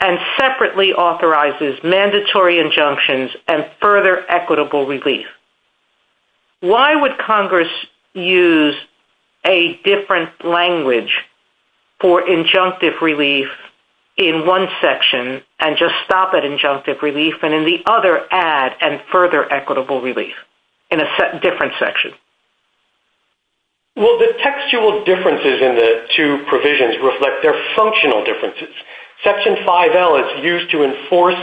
and separately authorizes mandatory injunctions and further equitable relief? Why would Congress use a different language for injunctive relief in one section and just stop at injunctive relief, and in the other, add and further equitable relief in a different section? Well, the textual differences in the two provisions reflect their functional differences. Section 5L is used to enforce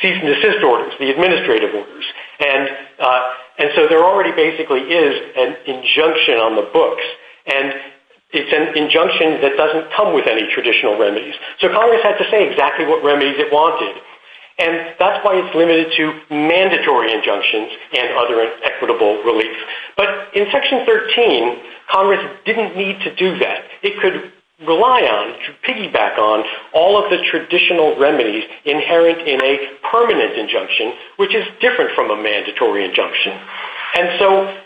cease and desist orders, the administrative orders, and so there already basically is an injunction on the books, and it's an injunction that doesn't come with any traditional remedies. So Congress had to say exactly what remedies it wanted, and in section 5L, Congress didn't need to do that. It could rely on, piggyback on, all of the traditional remedies inherent in a permanent injunction, which is different from a mandatory injunction. And so,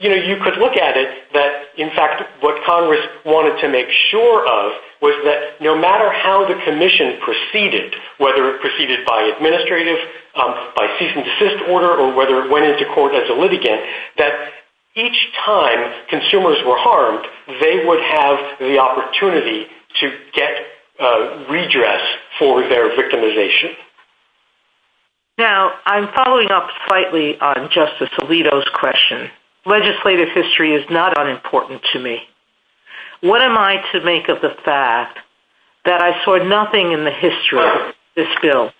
you know, you could look at it that, in fact, what Congress wanted to make sure of was that no matter how the commission proceeded, whether it proceeded by administrative, by cease and desist or whether it went into court as a litigant, that each time consumers were harmed, they would have the opportunity to get redress for their victimization. Now, I'm following up slightly on Justice Alito's question. Legislative history is not unimportant to me. What am I to make of the fact that I saw nothing in the history of this bill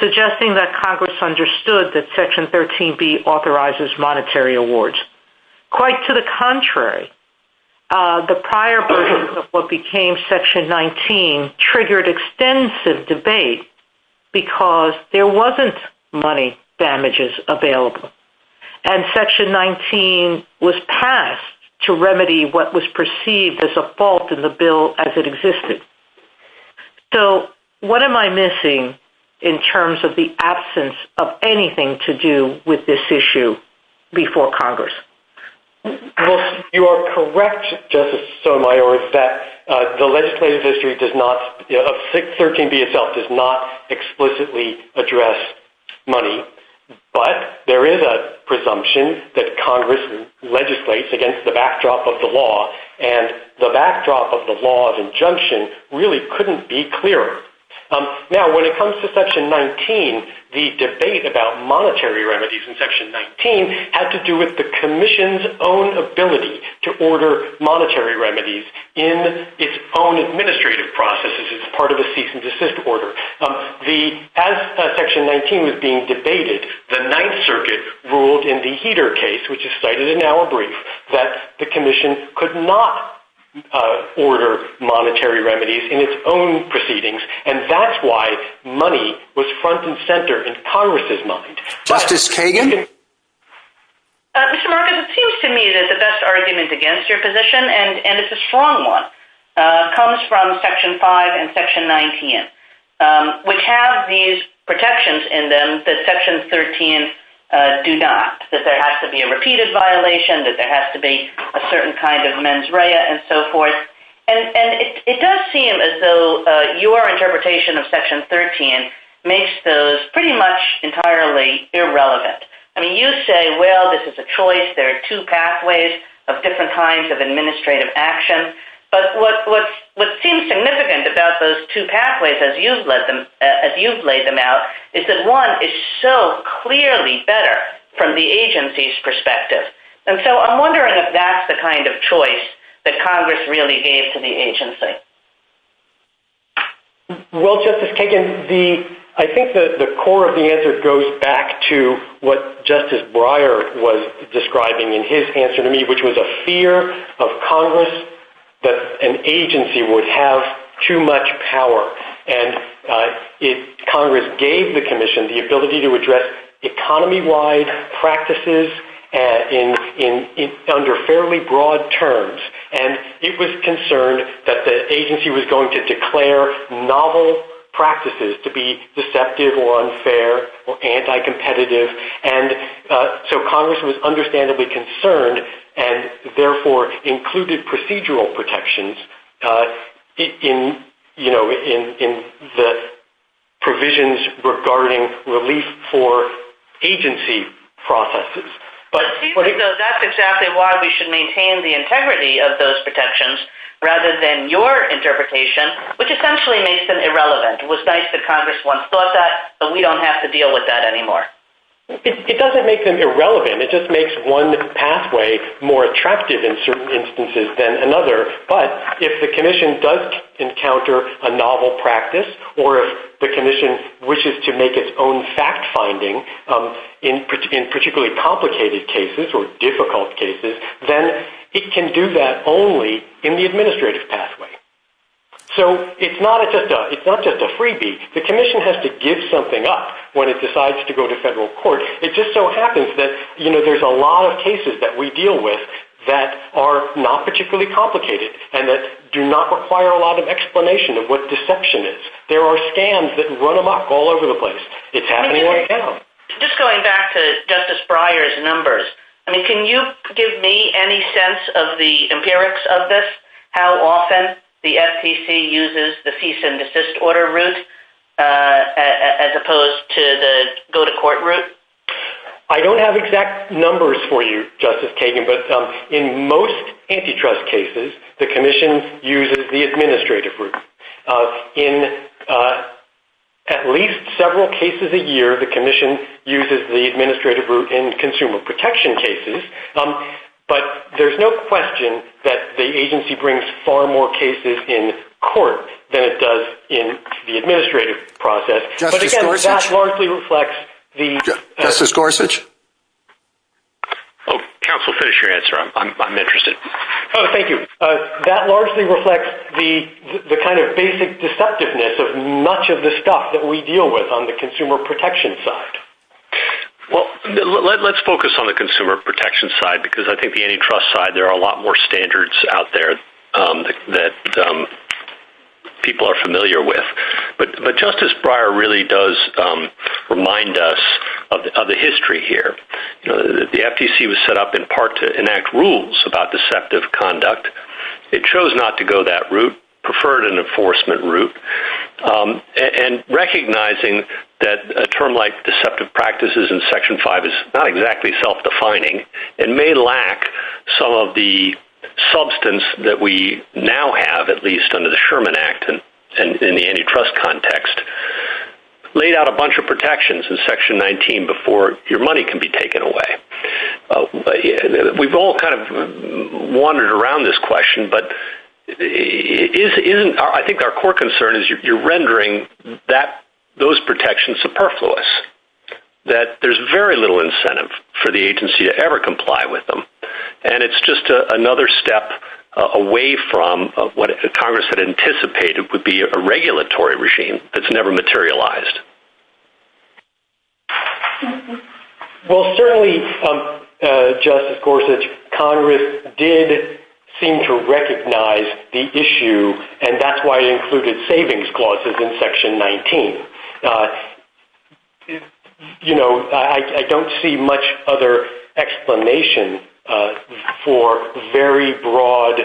suggesting that Congress should not have passed Section 14B authorizes monetary awards? Quite to the contrary. The prior version of what became Section 19 triggered extensive debate because there wasn't money damages available, and Section 19 was passed to remedy what was perceived as a fault in the bill as it existed. So what am I missing in terms of the absence of anything to do with this issue before Congress? Well, you are correct, Justice Sotomayor, that the legislative history of 13B itself does not explicitly address money, but there is a presumption that Congress legislates against the backdrop of the law, and the backdrop of the law of injunction really couldn't be clearer. Now, when it comes to the issue of money, one of the issues in Section 19 had to do with the Commission's own ability to order monetary remedies in its own administrative processes. It's part of a cease and desist order. As Section 19 was being debated, the Ninth Circuit ruled in the Heeter case, which is cited in our brief, that the Commission could not order monetary remedies. Mr. Marcus, it seems to me that the best argument against your position, and it's a strong one, comes from Section 5 and Section 19, which have these protections in them that Section 13 do not, that there has to be a repeated violation, that there has to be a certain kind of mens rea and so forth. I mean, you say, well, this is a choice. There are two pathways of different kinds of administrative action. But what seems significant about those two pathways, as you've laid them out, is that one is so clearly better from the agency's perspective. And so I'm wondering if that's the kind of choice that Congress really gave to the agency. Justice Breyer was describing in his answer to me, which was a fear of Congress that an agency would have too much power. And Congress gave the Commission the ability to address economy-wide practices under fairly broad terms. And it was concerned that the agency was going to declare novel practices to be deceptive or unfair or misleading. And so Congress was understandably concerned and therefore included procedural protections in the provisions regarding relief for agency processes. But that's exactly why we should maintain the integrity of those protections rather than your interpretation, which essentially makes them irrelevant. It just makes one pathway more attractive in certain instances than another. But if the Commission does encounter a novel practice or if the Commission wishes to make its own fact-finding in particularly complicated cases or difficult cases, then it can do that only in the administrative pathway. So it's not just a freebie. The Commission has to give something up when it happens. There's a lot of cases that we deal with that are not particularly complicated and that do not require a lot of explanation of what deception is. There are scams that run amok all over the place. It's happening all the time. Just going back to Justice Breyer's numbers, can you give me any sense of the empirics of this, how often the FTC uses the cease and desist order route as well? I don't have exact numbers for you, Justice Kagan, but in most antitrust cases, the Commission uses the administrative route. In at least several cases a year, the Commission uses the administrative route in consumer protection cases. But there's no question that the agency brings far more cases in court than it does in the administrative process. Oh, counsel, finish your answer. I'm interested. Oh, thank you. That largely reflects the kind of basic deceptiveness of much of the stuff that we deal with on the consumer protection side. Well, let's focus on the consumer protection side because I think the antitrust side, there are a lot more standards out there that people are familiar with. The FTC was set up in part to enact rules about deceptive conduct. It chose not to go that route, preferred an enforcement route. And recognizing that a term like deceptive practices in Section 5 is not exactly self-defining and may lack some of the substance that we now have, at least under the Sherman Act and in the antitrust context, laid out a bunch of rules that have been taken away. We've all kind of wandered around this question, but I think our core concern is you're rendering those protections superfluous, that there's very little incentive for the agency to ever comply with them. And it's just another step away from what Congress had anticipated would be a regulatory regime that's never materialized. And certainly, Justice Gorsuch, Congress did seem to recognize the issue, and that's why it included savings clauses in Section 19. You know, I don't see much other explanation for very broad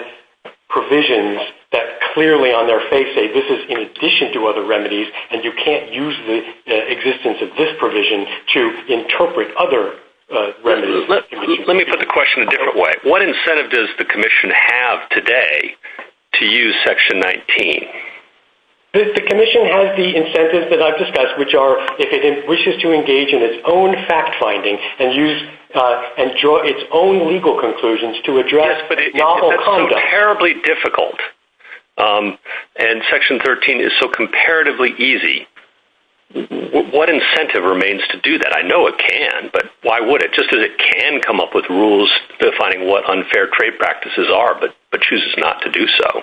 provisions that clearly on their face say this is in addition to other remedies and you can't use the existence of this provision to interpret that. Let me put the question a different way. What incentive does the commission have today to use Section 19? The commission has the incentives that I've discussed, which are if it wishes to engage in its own fact-finding and draw its own legal conclusions to it, just as it can come up with rules defining what unfair trade practices are, but chooses not to do so.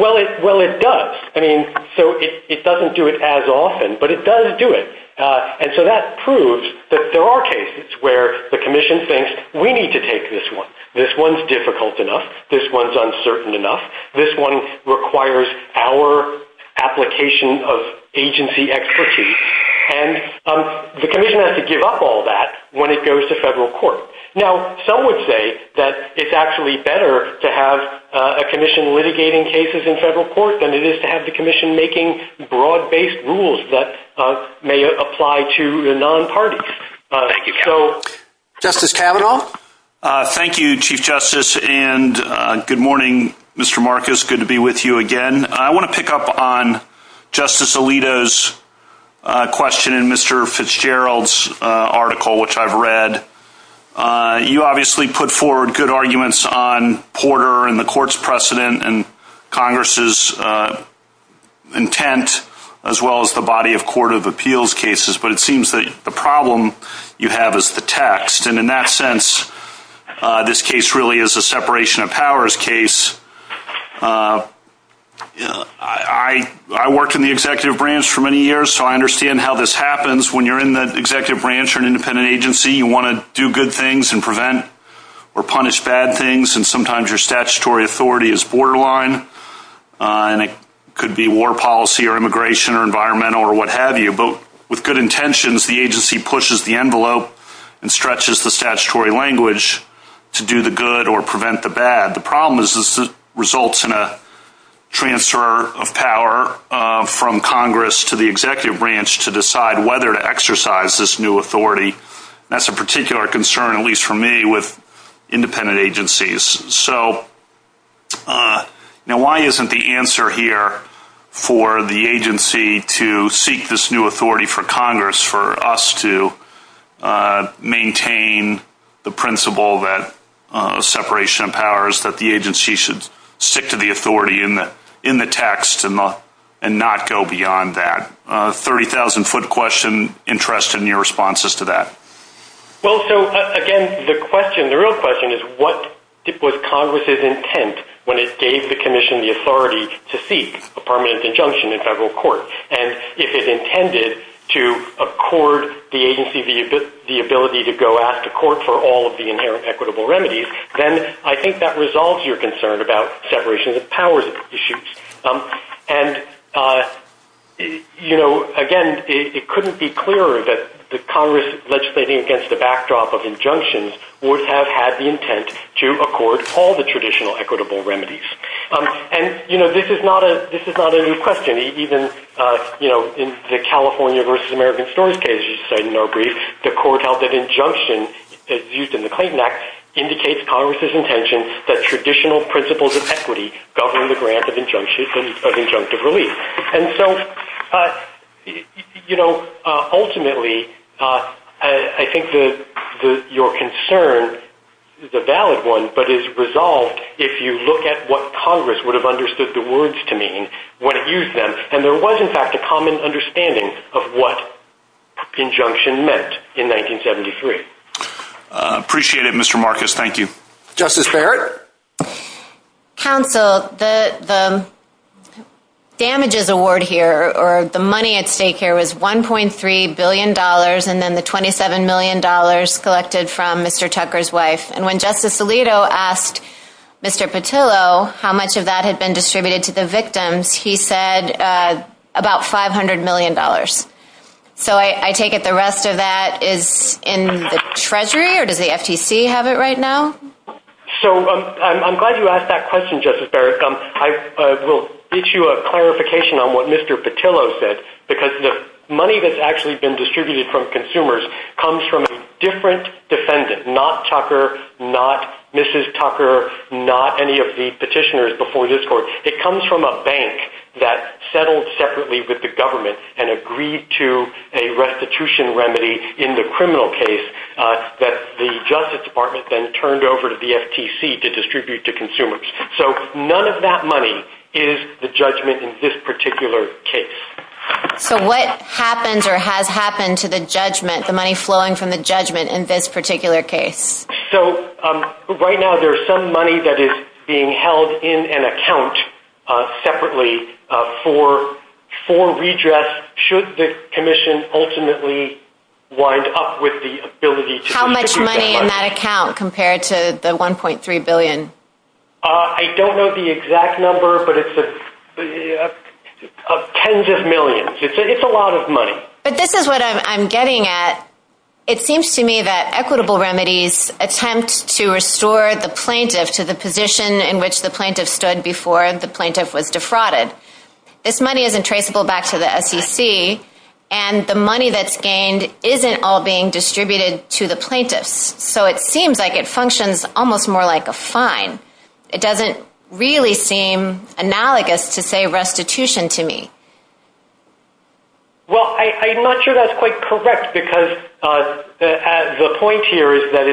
Well, it does. I mean, so it doesn't do it as often, but it does do it. And so that proves that there are cases where the commission thinks we need to take this one. This one's difficult enough. This one's uncertain when it goes to federal court. Now, some would say that it's actually better to have a commission litigating cases in federal court than it is to have the commission making broad-based rules that may apply to the non-parties. Justice Kavanaugh? Thank you, Chief Justice, and good morning, Mr. Marcus. Good to be with you again. Thank you for the excellent report that you just read. You obviously put forward good arguments on Porter and the court's precedent and Congress's intent, as well as the body of court of appeals cases. But it seems that the problem you have is the text. And in that sense, this case really is a separation of powers case. I worked in the executive branch for many years, so I understand you want to do good things and prevent or punish bad things, and sometimes your statutory authority is borderline, and it could be war policy or immigration or environmental or what have you. But with good intentions, the agency pushes the envelope and stretches the statutory language to do the good or prevent the bad. The problem is this results in a transfer of power from Congress to the agency, which is a particular concern, at least for me, with independent agencies. Now, why isn't the answer here for the agency to seek this new authority for Congress for us to maintain the principle that separation of powers, that the agency should stick to the authority in the text and not go beyond that? A 30,000-foot question. Interested in your responses to that? Well, so, again, the question, the real question is, what was Congress's intent when it gave the commission the authority to seek a permanent injunction in federal court? And if it intended to accord the agency the ability to go out to court for all of the inherent equitable remedies, then I think that resolves your concern about separation of powers issues. And, you know, again, it couldn't be clearer to me that the agency, under the backdrop of injunctions, would have had the intent to accord all the traditional equitable remedies. And, you know, this is not a new question. Even, you know, in the California versus American stories case you cite in our brief, the court held that injunction, as used in the Clayton Act, indicates Congress's intention that traditional principles of equity govern the grant of a permanent injunction. So I think that your concern is a valid one but is resolved if you look at what Congress would have understood the words to mean when it used them. And there was, in fact, a common understanding of what injunction meant in 1973. Appreciate it, Mr. Marcus. Thank you. Justice Barrett? Counsel, the damages award here, or the money at stake is collected from Mr. Tucker's wife. And when Justice Alito asked Mr. Petillo how much of that had been distributed to the victims, he said about $500 million. So I take it the rest of that is in the Treasury or does the FTC have it right now? So I'm glad you asked that question, Justice Barrett. I will get you a clarification on what Mr. Petillo said because the money that's actually been distributed to the victims is the judgment defendant, not Tucker, not Mrs. Tucker, not any of the petitioners before this court. It comes from a bank that settled separately with the government and agreed to a restitution remedy in the criminal case that the Justice Department then turned over to the FTC to distribute to consumers. So none of that money is the judgment in this particular case. So right now there is some money that is being held in an account separately for redress should the commission ultimately wind up with the ability to distribute that money. How much money in that account compared to the $1.3 billion? I don't know the exact number, but it's tens of millions. It's a lot of money. But this is what I'm getting at. It seems to me that equitable remedies attempt to restore the plaintiff to the position in which the plaintiff stood before the plaintiff was defrauded. This money isn't traceable back to the SEC, and the money that's gained isn't all being distributed to the plaintiffs. So it seems like it functions almost more like a fine. It doesn't really seem analogous to, say, restitution to me. But the point here is that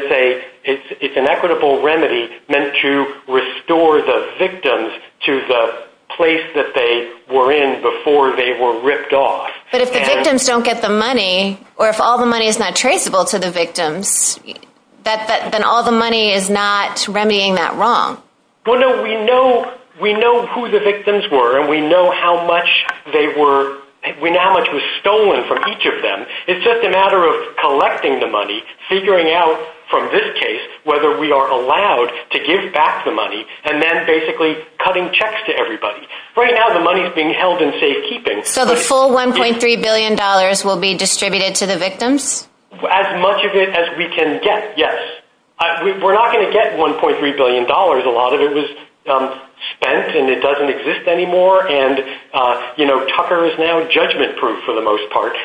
it's an equitable remedy meant to restore the victims to the place that they were in before they were ripped off. But if the victims don't get the money, or if all the money is not traceable to the victims, then all the money is not remedying that wrong. Well, no, we know who the victims were, and we know how much was stolen from them, and we know from this case whether we are allowed to give back the money and then basically cutting checks to everybody. Right now, the money is being held in safekeeping. So the full $1.3 billion will be distributed to the victims? As much of it as we can get, yes. We're not going to get $1.3 billion. A lot of it was spent, and it doesn't exist anymore. Tucker is now saying, well, we're going to give back the cars,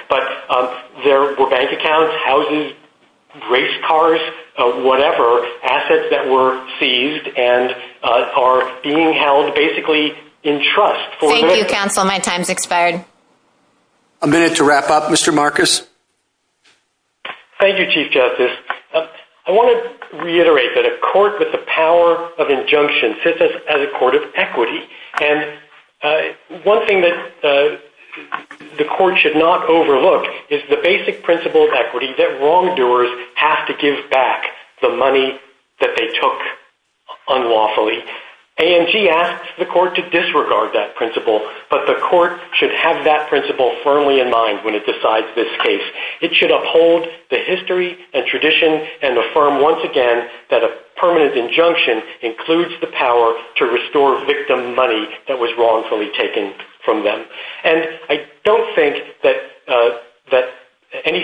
whatever, assets that were seized and are being held basically in trust. Thank you, counsel. My time has expired. A minute to wrap up, Mr. Marcus. Thank you, Chief Justice. I want to reiterate that a court with the power of injunction sits as a court of equity. A court should not give back the money that they took unlawfully. AMG asks the court to disregard that principle, but the court should have that principle firmly in mind when it decides this case. It should uphold the history and tradition and affirm once again that a permanent injunction includes the power to restore victim money that was wrongfully taken from them. And I don't think the court should allow that principle to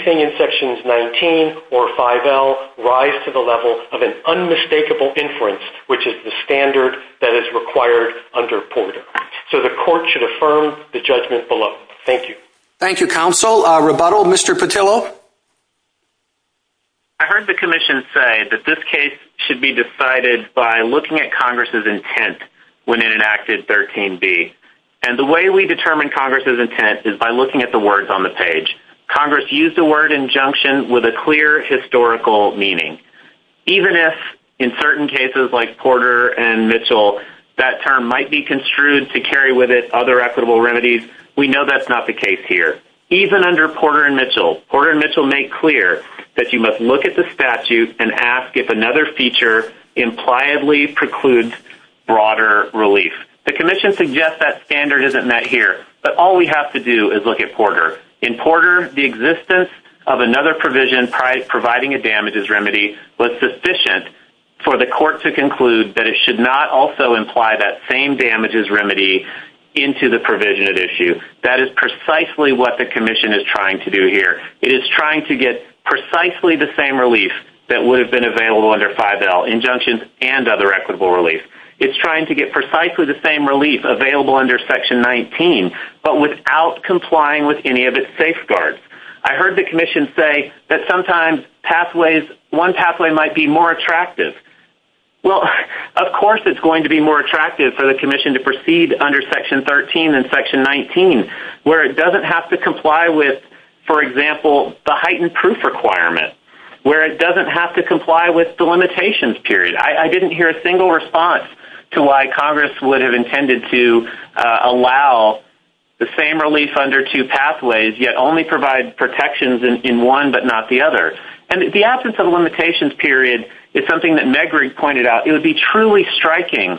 rise to the level of an unmistakable inference, which is the standard that is required under Porter. So the court should affirm the judgment below. Thank you. Thank you, counsel. A rebuttal, Mr. Petillo? I heard the commission say that this case should be decided by looking at Congress's intent when it enacted 13B. And the way we determine that is by looking at the statute's meaning. Even if in certain cases like Porter and Mitchell, that term might be construed to carry with it other equitable remedies, we know that's not the case here. Even under Porter and Mitchell, Porter and Mitchell make clear that you must look at the statute and ask if another feature impliedly precludes broader relief. The commission believes that the same damages remedy was sufficient for the court to conclude that it should not also imply that same damages remedy into the provision at issue. That is precisely what the commission is trying to do here. It is trying to get precisely the same relief that would have been available under 5L, injunctions and other equitable relief. It's trying to get precisely the same relief that would have been available under 5L, injunctions and other equitable remedy. I hear you, Mr. Petillo. Why is it that one pathway might be more attractive? Of course it's going to be more attractive for the commission to proceed under section 13 and section 19 where it doesn't have to comply with, for example, the heightened proof requirement. I didn't hear a single limitation. The limitations period is something that Megrigg pointed out. It would be truly striking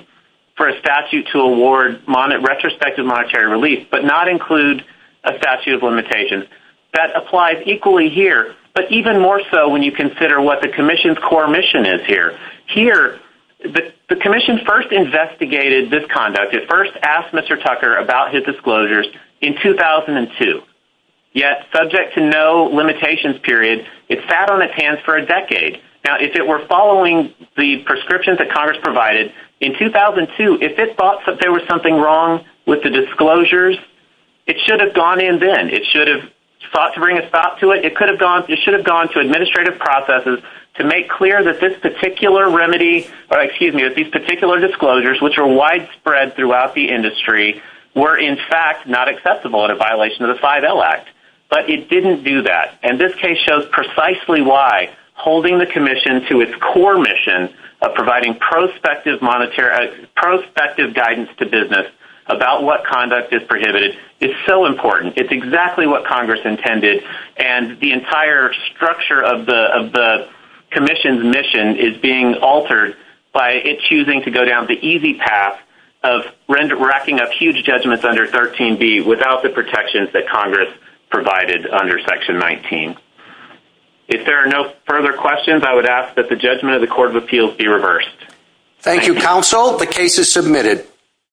for a statute to award retrospective monetary relief but not include a statute of limitations. That applies equally here, but even more so when you consider what the commission's core mission is here. The commission first investigated this conduct. It first asked Mr. Tucker about this. Now, if it were following the prescriptions that Congress provided in 2002, if it thought that there was something wrong with the disclosures, it should have gone in then. It should have sought to bring a stop to it. It should have gone to administrative processes to make clear that this particular remedy or, excuse me, that these particular disclosures, which are widespread in the United States, are not appropriate. The commission's core mission of providing prospective guidance to business about what conduct is prohibited is so important. It's exactly what Congress intended, and the entire structure of the commission's mission is being altered by it choosing to go down the easy path of racking up huge judgments under 13B without the recommendation of Congress. I would ask that the judgment of the Court of Appeals be reversed. Thank you, Counsel. The case is submitted.